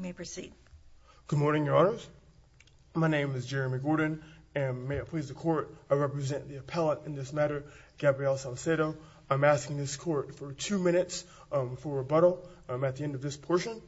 Good morning, Your Honors. My name is Jeremy Gordon, and may it please the Court, I represent the appellate in this matter, Gabriel Salcedo. I'm asking this Court for two minutes for rebuttal at the end of this portion.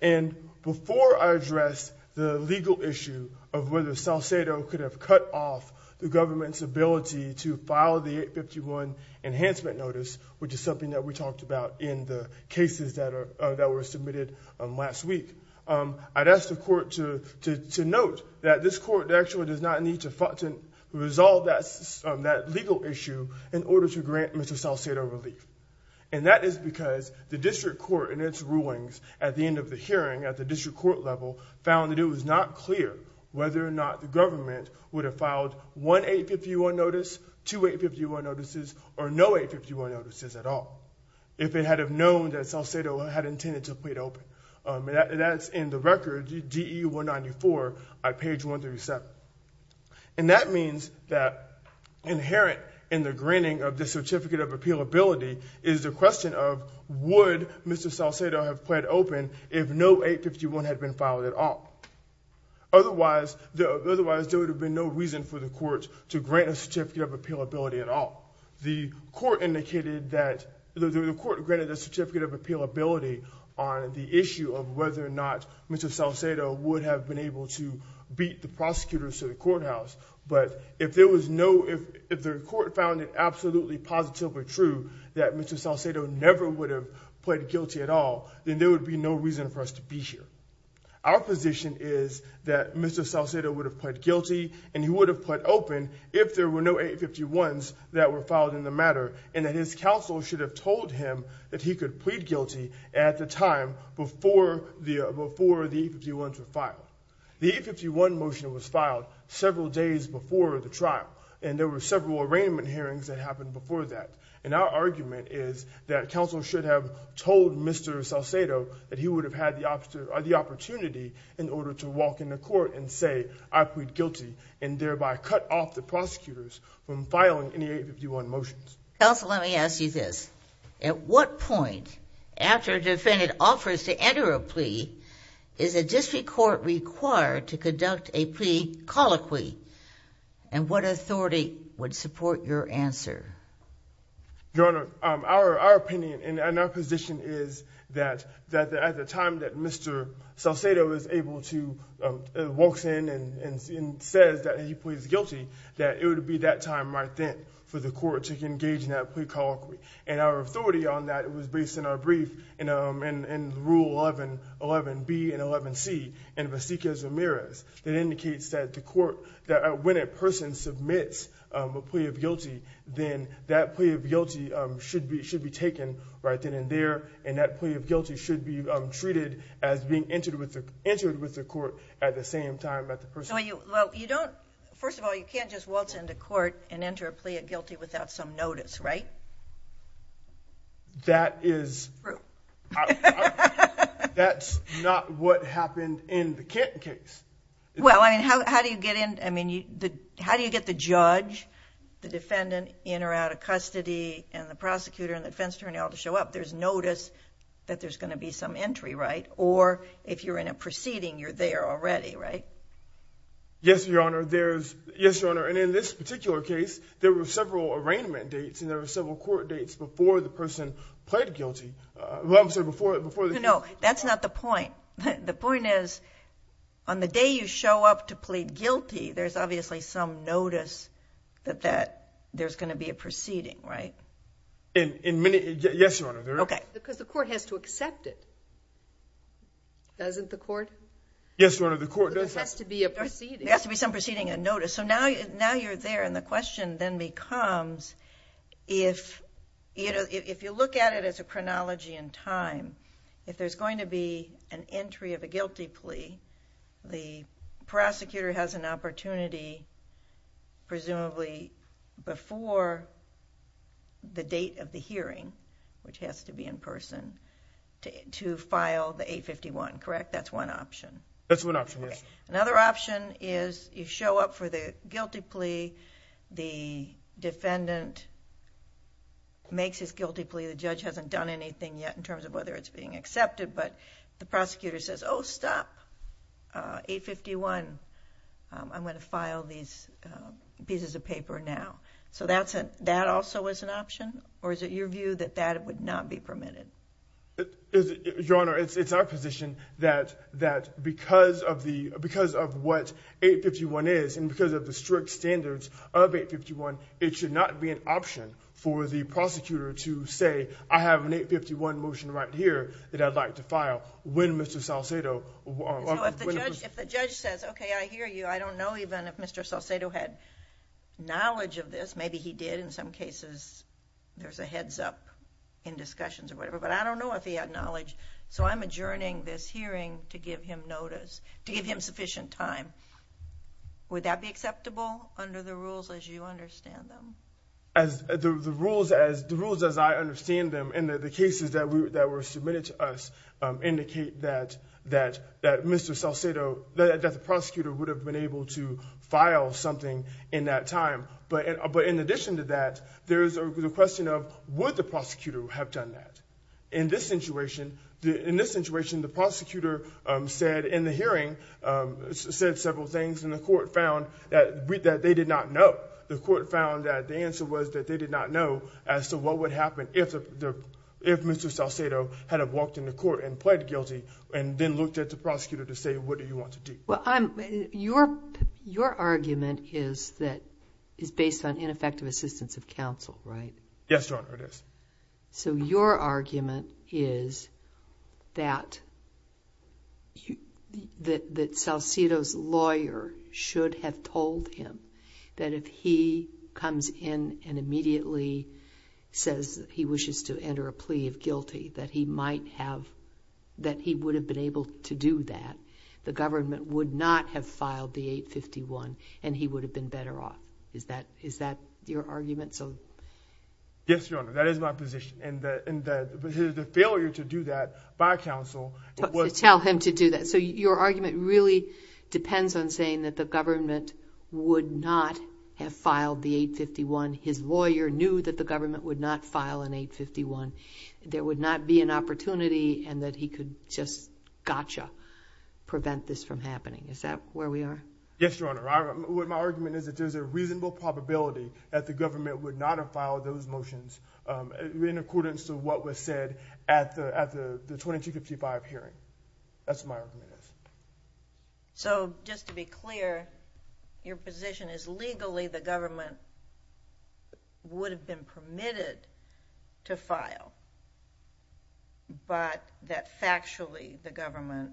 And before I address the legal issue of whether Salcedo could have cut off the government's ability to file the 851 Enhancement Notice, which is something that we talked about in the cases that were submitted last week, I'd ask the Court to note that this Court actually does not need to resolve that legal issue in order to grant Mr. Salcedo relief. And that is because the District Court in its rulings at the end of the hearing, at the District Court level, found that it was not clear whether or not the government would have filed one 851 Notice, two 851 Notices, or no 851 Notices at all, if it had have known that Salcedo had intended to plead open. That's in the record, D.E. 194, at page 137. And that means that inherent in the granting of the Certificate of Appealability is the question of, would Mr. Salcedo have plead open if no 851 had been filed at all? Otherwise, there would have been no reason for the Court to indicate that the Court granted the Certificate of Appealability on the issue of whether or not Mr. Salcedo would have been able to beat the prosecutors to the courthouse. But if there was no, if the Court found it absolutely positively true that Mr. Salcedo never would have pled guilty at all, then there would be no reason for us to be here. Our position is that Mr. Salcedo would have pled guilty and he would have pled open if there were no 851s that were filed in the matter, and that his counsel should have told him that he could plead guilty at the time before the 851s were filed. The 851 motion was filed several days before the trial, and there were several arraignment hearings that happened before that. And our argument is that counsel should have told Mr. Salcedo that he would have had the opportunity in order to walk into court and say, I plead guilty, and thereby cut off the prosecutors from filing any 851 motions. Counsel, let me ask you this. At what point, after a defendant offers to enter a plea, is a district court required to conduct a plea colloquy? And what authority would support your answer? Your Honor, our opinion and our position is that at the time Mr. Salcedo walks in and says that he pleads guilty, that it would be that time right then for the court to engage in that plea colloquy. And our authority on that was based on our brief in Rule 11B and 11C in Vasiquez Ramirez that indicates that when a person submits a plea of as being entered with the court at the same time that the person... First of all, you can't just waltz into court and enter a plea of guilty without some notice, right? That is... That's not what happened in the Kenton case. Well, I mean, how do you get in? I mean, how do you get the judge, the defendant in or out of custody, and the prosecutor and defense attorney all to show up? There's notice that there's going to be some entry, right? Or if you're in a proceeding, you're there already, right? Yes, Your Honor. There's... Yes, Your Honor. And in this particular case, there were several arraignment dates and there were several court dates before the person pled guilty. Well, I'm sorry, before the... No, that's not the point. The point is on the day you show up to plead guilty, there's obviously some notice that there's going to be a proceeding, right? In many... Yes, Your Honor. Okay. Because the court has to accept it, doesn't the court? Yes, Your Honor, the court does accept it. But there has to be a proceeding. There has to be some proceeding, a notice. So now you're there, and the question then becomes, if you look at it as a chronology in time, if there's going to be an entry of a guilty plea, the prosecutor has an opportunity, presumably before the date of the hearing, which has to be in person, to file the 851, correct? That's one option. That's one option, yes. Another option is you show up for the guilty plea, the defendant makes his guilty plea. The judge hasn't done anything yet in terms of whether it's being accepted, but the prosecutor says, oh, stop, 851, I'm going to file these pieces of paper now. So that also is an option, or is it your view that that would not be permitted? Your Honor, it's our position that because of what 851 is, and because of the strict standards of 851, it should not be an option for the prosecutor to say, I have an 851 motion right here that I'd like to file when Mr. Salcedo... So if the judge says, okay, I hear you, I don't know even if Mr. Salcedo had knowledge of this, maybe he did in some cases, there's a heads up in discussions or whatever, but I don't know if he had knowledge, so I'm adjourning this hearing to give him notice, to give him sufficient time, would that be acceptable under the rules as you understand them? As the rules, as I understand them, and the cases that were submitted to us indicate that Mr. Salcedo... that the prosecutor would have been able to file something in that time, but in addition to that, there's the question of would the prosecutor have done that? In this situation, the prosecutor said in the hearing, said several things and the court found that they did not know. The court found that the answer was that they did not know as to what would happen if Mr. Salcedo had walked into court and pled guilty and then looked at the prosecutor to say, what do you want to do? Well, your argument is that... is based on ineffective assistance of counsel, right? Yes, Your Honor, it is. So your argument is that Salcedo's lawyer should have told him that if he comes in and immediately says he wishes to enter a plea of guilty, that he might have... that he would have been able to do that. The government would not have filed the 851 and he would have been better off. Is that your argument? Yes, Your Honor, that is my position and the failure to do that by counsel... To tell him to do that. So your argument really depends on saying that the government would not have filed the 851. His lawyer knew that the government would not file an 851. There would not be an opportunity and that he could just gotcha prevent this from happening. Is that where we are? Yes, Your Honor. My argument is that there's a reasonable probability that the government would not have filed those motions in accordance to what was said at the 2255 hearing. That's my argument. So just to be clear, your position is legally the government would have been permitted to file, but that factually the government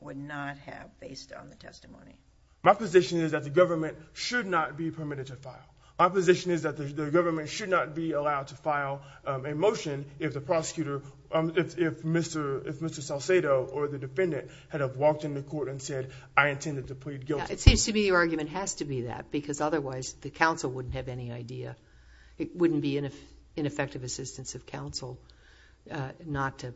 would not have based on the testimony? My position is that the government should not be permitted to file. My position is that the government should not be allowed to file a motion if the prosecutor, if Mr. Salcedo or the defendant had walked into court and said, I intended to plead guilty. It seems to me your argument has to be that because otherwise the counsel wouldn't have any idea. It wouldn't be an ineffective assistance of counsel not to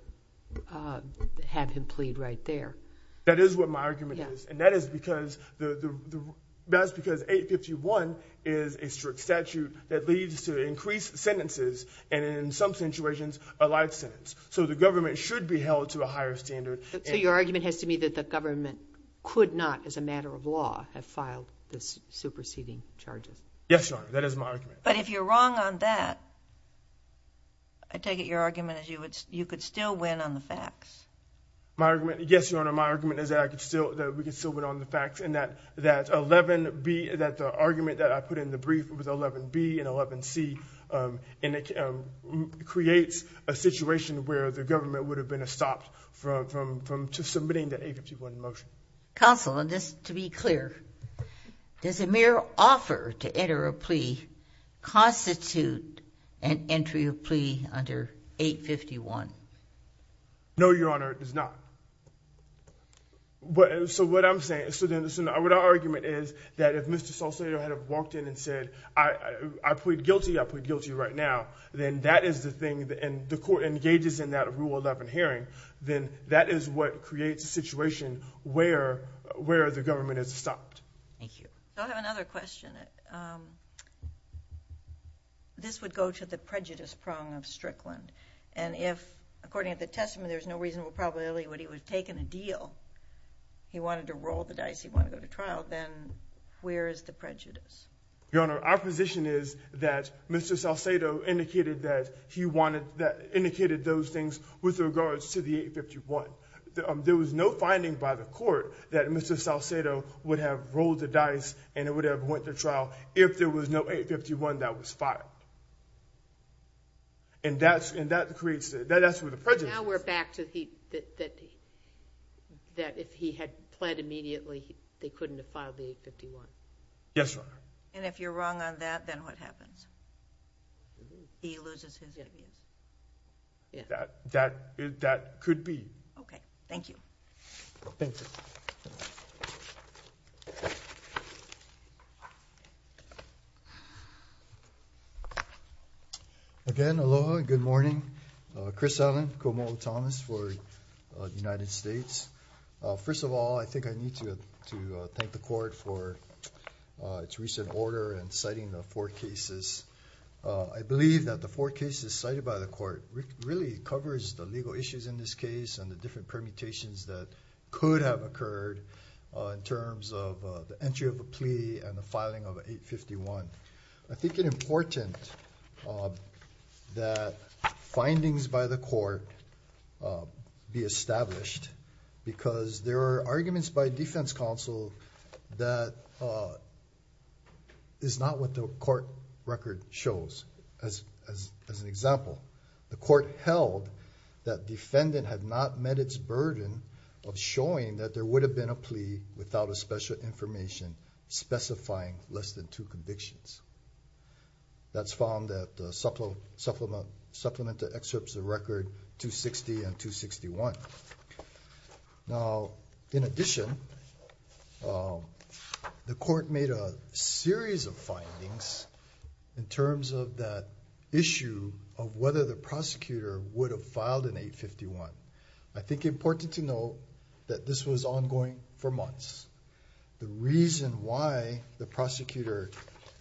have him plead right there. That is what my argument is. And that is because 851 is a strict statute that leads to increased sentences and in some situations a life sentence. So the government should be held to a higher standard. So your argument has to be that the government could not as a matter of law have filed this superseding charges? Yes, Your Honor. That is my argument. But if you're wrong on that, I take it your argument is you could still win on the facts. My argument, yes, Your Honor. My argument is that we could still win on the facts and that that 11B, that the argument that I put in the brief with 11B and 11C creates a situation where the government would have been stopped from submitting the 851 motion. Counsel, just to be clear, does a mere offer to enter a plea constitute an entry of plea under 851? No, Your Honor, it does not. So what I'm saying, what our argument is that if Mr. Salcedo had walked in and said, I plead guilty, I plead guilty right now, then that is the thing and the court engages in that Rule 11 hearing, then that is what creates a situation where the government is stopped. Thank you. I have another question. This would go to the prejudice prong of Strickland. And if, according to the testament, there's no reasonable probability that he would have taken a deal, he wanted to roll the dice, he wanted to go to trial, then where is the prejudice? Your Honor, our position is that Mr. Salcedo indicated that he wanted that, indicated those things with regards to the 851. There was no finding by the court that Mr. Salcedo would have gone to trial if there was no 851 that was filed. And that's where the prejudice is. Now we're back to that if he had pled immediately, they couldn't have filed the 851. Yes, Your Honor. And if you're wrong on that, then what happens? He loses his immunity. That could be. Okay, thank you. Thank you. Thank you. Again, aloha, good morning. Chris Allen, Komomo Thomas for the United States. First of all, I think I need to thank the court for its recent order and citing the four cases. I believe that the four cases cited by the court really covers the legal issues in this case and the different permutations that could have occurred in terms of the entry of a plea and the filing of 851. I think it's important that findings by the court be established because there are arguments by defense counsel that is not what the court record shows. As an example, the court held that defendant had not met its burden of showing that there less than two convictions. That's found that the supplemental excerpts of record 260 and 261. Now, in addition, the court made a series of findings in terms of that issue of whether the prosecutor would have filed an 851. I think important to know that this was ongoing for reason why the prosecutor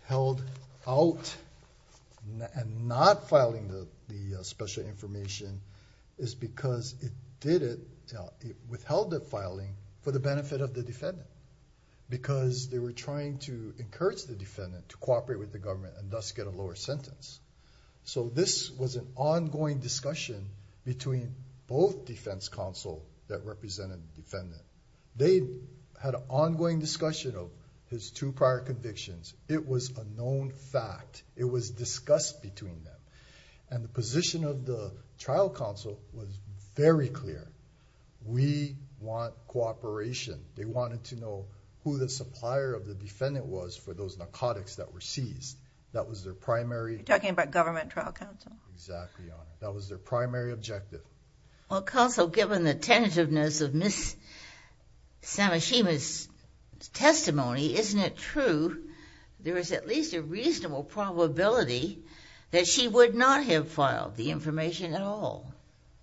held out and not filing the the special information is because it did it, it withheld the filing for the benefit of the defendant, because they were trying to encourage the defendant to cooperate with the government and thus get a lower sentence. So this was an ongoing discussion between both defense counsel that represented the defendant. They had an ongoing discussion of his two prior convictions. It was a known fact. It was discussed between them. And the position of the trial counsel was very clear. We want cooperation. They wanted to know who the supplier of the defendant was for those narcotics that were seized. That was their primary... Talking about government trial counsel. Exactly. That was their primary objective. Well, counsel, given the tentativeness of Ms. Samashima's testimony, isn't it true there is at least a reasonable probability that she would not have filed the information at all?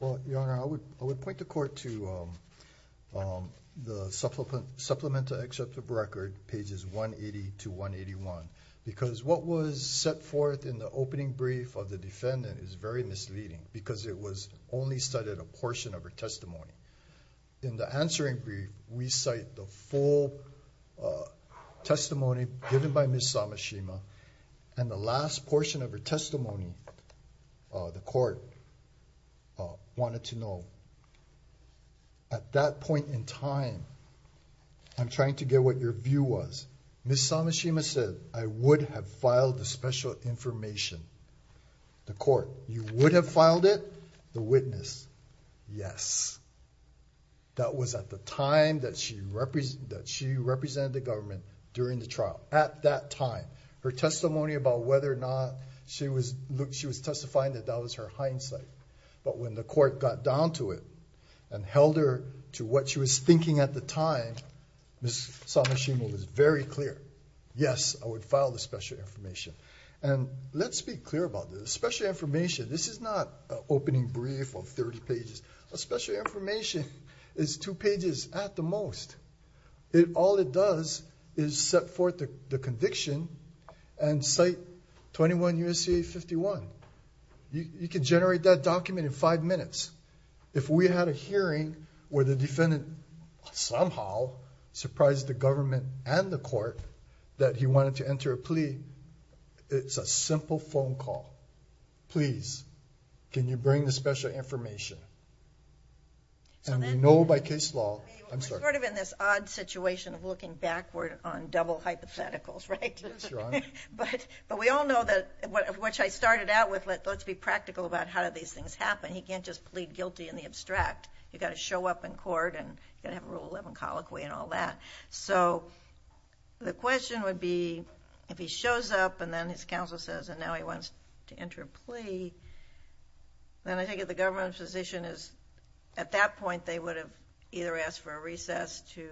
Well, Your Honor, I would point the court to the supplemental excerpt of record pages 180 to 181, because what was set forth in the opening brief of the defendant is very misleading, because it was only studied a portion of her testimony. In the answering brief, we cite the full testimony given by Ms. Samashima. And the last portion of her testimony, the court wanted to know. At that point in time, I'm trying to get what your view was. Ms. Samashima said, I would have filed the special information. The court, you would have filed it? The witness, yes. That was at the time that she represented the government during the trial. At that time, her testimony about whether or not she was... She was testifying that that was her hindsight. But when the court got down to it and held her to what she was thinking at the time, Ms. Samashima was very clear. Yes, I would file special information. And let's be clear about this. Special information, this is not an opening brief of 30 pages. A special information is two pages at the most. All it does is set forth the conviction and cite 21 U.S.C.A. 51. You can generate that document in five minutes. If we had a hearing where the defendant somehow surprised the government and the court that he wanted to plead, it's a simple phone call. Please, can you bring the special information? And we know by case law... I'm sorry. We're sort of in this odd situation of looking backward on double hypotheticals, right? But we all know that, which I started out with, let's be practical about how do these things happen. He can't just plead guilty in the abstract. You've got to show up in court and you've got to have a rule 11 colloquy and all that. So the question would be, if he shows up and then his counsel says, and now he wants to enter a plea, then I think if the government physician is at that point, they would have either asked for a recess to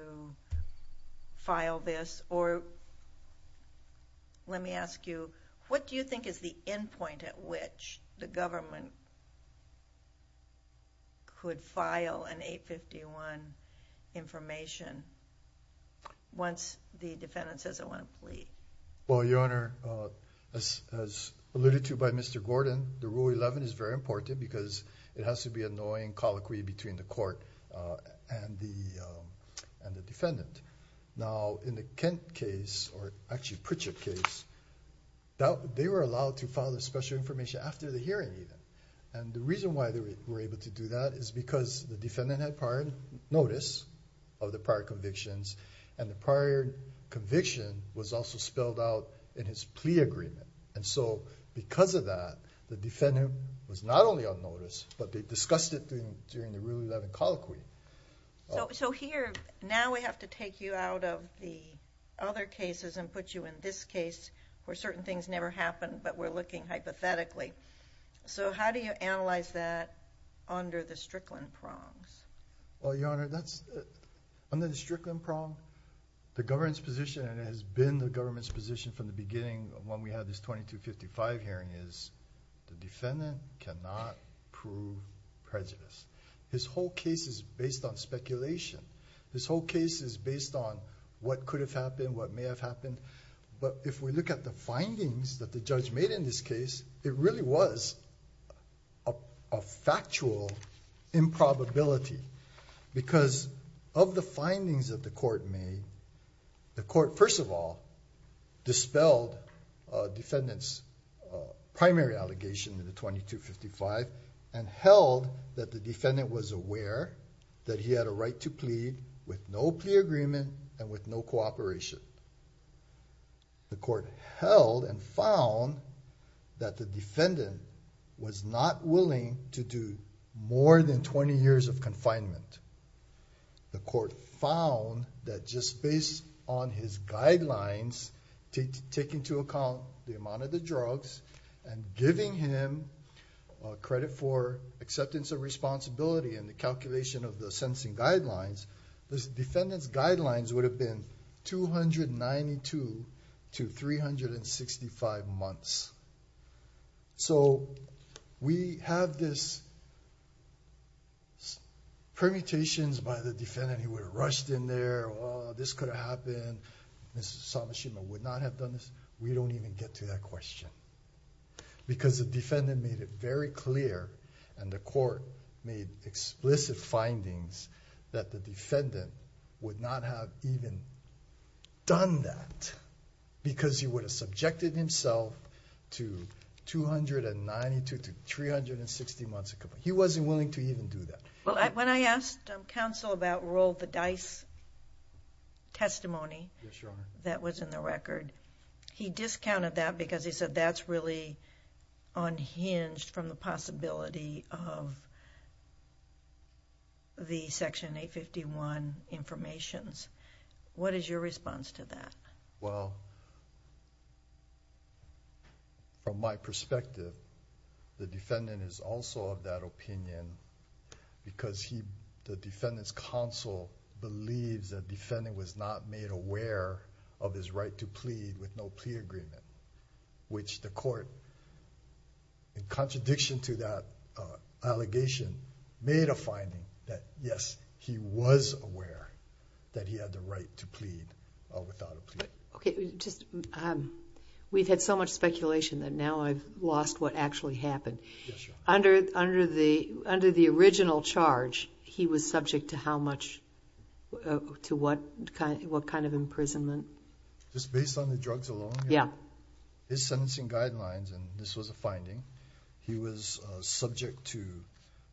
file this, or let me ask you, what do you think is the end point at which the government could file an A-51 information once the defendant says they want to plead? Well, Your Honor, as alluded to by Mr. Gordon, the rule 11 is very important because it has to be a knowing colloquy between the court and the defendant. Now, in the Kent case, or actually Pritchett case, they were allowed to file the special information after the hearing even. And the reason why they were able to do that is because the defendant had prior notice of the prior convictions, and the prior conviction was also spelled out in his plea agreement. And so because of that, the defendant was not only on notice, but they discussed it during the rule 11 colloquy. So here, now we have to take you out of the other cases and put you in this case where certain things never happened, but we're looking hypothetically. So how do you analyze that under the Strickland prongs? Well, Your Honor, under the Strickland prong, the government's position, and it has been the government's position from the beginning when we had this 2255 hearing is the defendant cannot prove prejudice. This whole case is based on speculation. This whole case is based on what could have happened, what may have happened, but if we look at the findings that the judge made in this case, it really was a factual improbability because of the findings that the court made, the court, first of all, dispelled defendant's primary allegation in the 2255 and held that the defendant was aware that he had a right to plead with no plea agreement and with no cooperation. The court held and found that the defendant was not willing to do more than 20 years of confinement. The court found that just based on his guidelines to take into account the amount of the drugs and giving him a credit for acceptance of responsibility and the calculation of the 365 months. So we have this permutations by the defendant. He would have rushed in there. Oh, this could have happened. Mrs. Samashima would not have done this. We don't even get to that question because the defendant made it very clear and the court made explicit findings that the defendant would not have even done that because he would have subjected himself to 292 to 360 months of confinement. He wasn't willing to even do that. Well, when I asked counsel about roll the dice testimony that was in the record, he discounted that because he said that's really unhinged from the possibility of the Section 851 informations. What is your response to that? Well, from my perspective, the defendant is also of that opinion because the defendant's counsel believes that the defendant was not made aware of his right to plead with no plea agreement, which the court, in contradiction to that allegation, made a finding that yes, he was aware that he had the right to plead without a plea. Okay. We've had so much speculation that now I've lost what actually happened. Under the original charge, he was subject to what kind of imprisonment? Just based on the drugs alone? Yeah. His sentencing guidelines, and this was a finding, he was subject to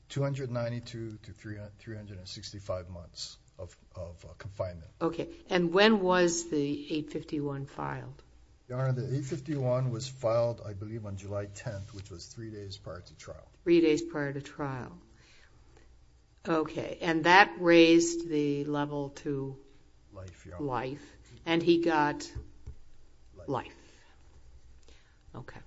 292 to 365 months of confinement. Okay. And when was the 851 filed? Your Honor, the 851 was filed, I believe, on July 10th, which was three days prior to trial. Okay. And that raised the level to life, and he got life. Okay.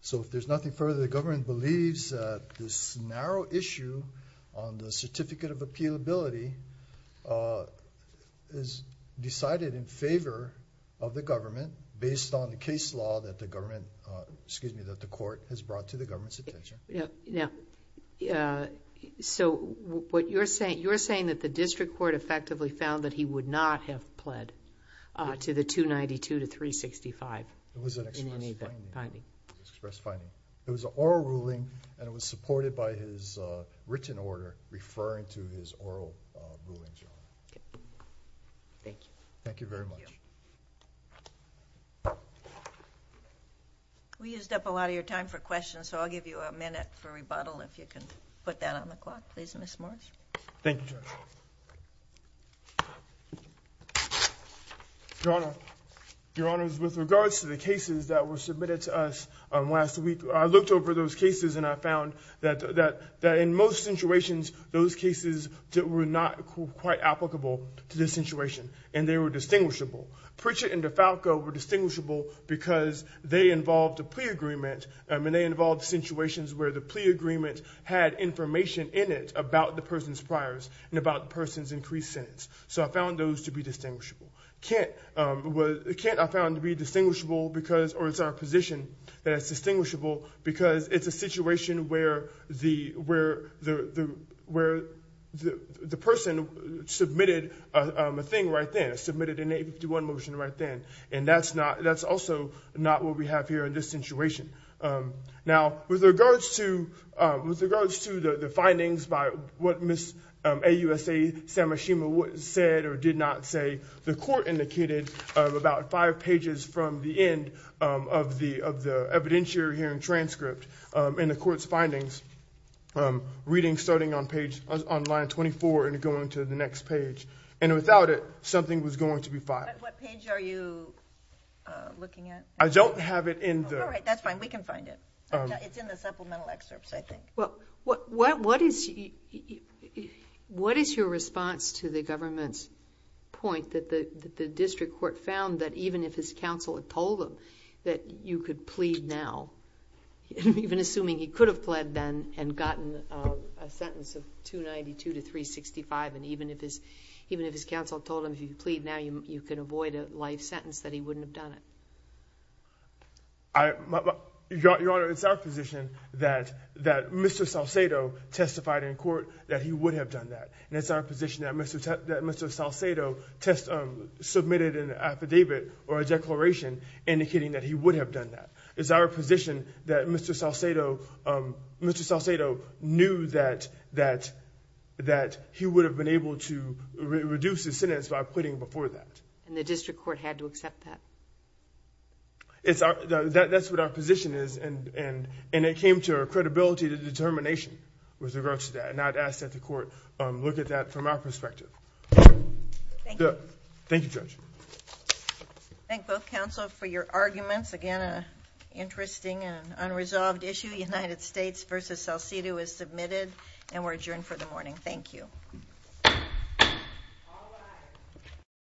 So if there's nothing further, the government believes that this narrow issue on the Certificate of Appealability is decided in favor of the government based on the case law that the court has brought to the government's attention. Yeah. So you're saying that the district court effectively found that he would not have pled to the 292 to 365? It was an express finding. It was an oral ruling, and it was supported by his written order referring to his oral ruling. Okay. Thank you. Thank you very much. We used up a lot of your time for questions, so I'll give you a minute for rebuttal if you can put that on the clock, please, Ms. Morris. Thank you, Judge. Your Honor, with regards to the cases that were submitted to us last week, I looked over those cases that were not quite applicable to this situation, and they were distinguishable. Pritchett and DeFalco were distinguishable because they involved a plea agreement, and they involved situations where the plea agreement had information in it about the person's priors and about the person's increased sentence. So I found those to be distinguishable. Kent, I found to be distinguishable because, or it's our position that it's distinguishable because it's a situation where the person submitted a thing right then, submitted an AB51 motion right then, and that's also not what we have here in this situation. Now, with regards to the findings by what Ms. AUSA Samashima said or did not say, the court indicated about five pages from the end of the evidentiary hearing transcript in the court's findings, reading starting on page, on line 24 and going to the next page. And without it, something was going to be filed. What page are you looking at? I don't have it in the... All right, that's fine. We can find it. It's in the supplemental excerpts, I think. Well, what is your response to the government's point that the district court found that even if his counsel had told him that you could plead now, even assuming he could have pled then and gotten a sentence of 292 to 365, and even if his counsel told him if he could plead now, you could avoid a life sentence, that he wouldn't have done it? Your Honor, it's our position that Mr. Salcedo testified in court that he would have done that. And it's our position that Mr. Salcedo submitted an affidavit or a declaration indicating that he would have done that. It's our position that Mr. Salcedo knew that he would have been able to reduce his sentence by pleading before that. And the district court had to accept that? That's what our position is. And it came to our credibility, the determination with regards to that. And I'd ask that the court look at that from our perspective. Thank you, Judge. Thank both counsel for your arguments. Again, an interesting and unresolved issue. United States v. Salcedo is submitted, and we're adjourned for the morning. Thank you.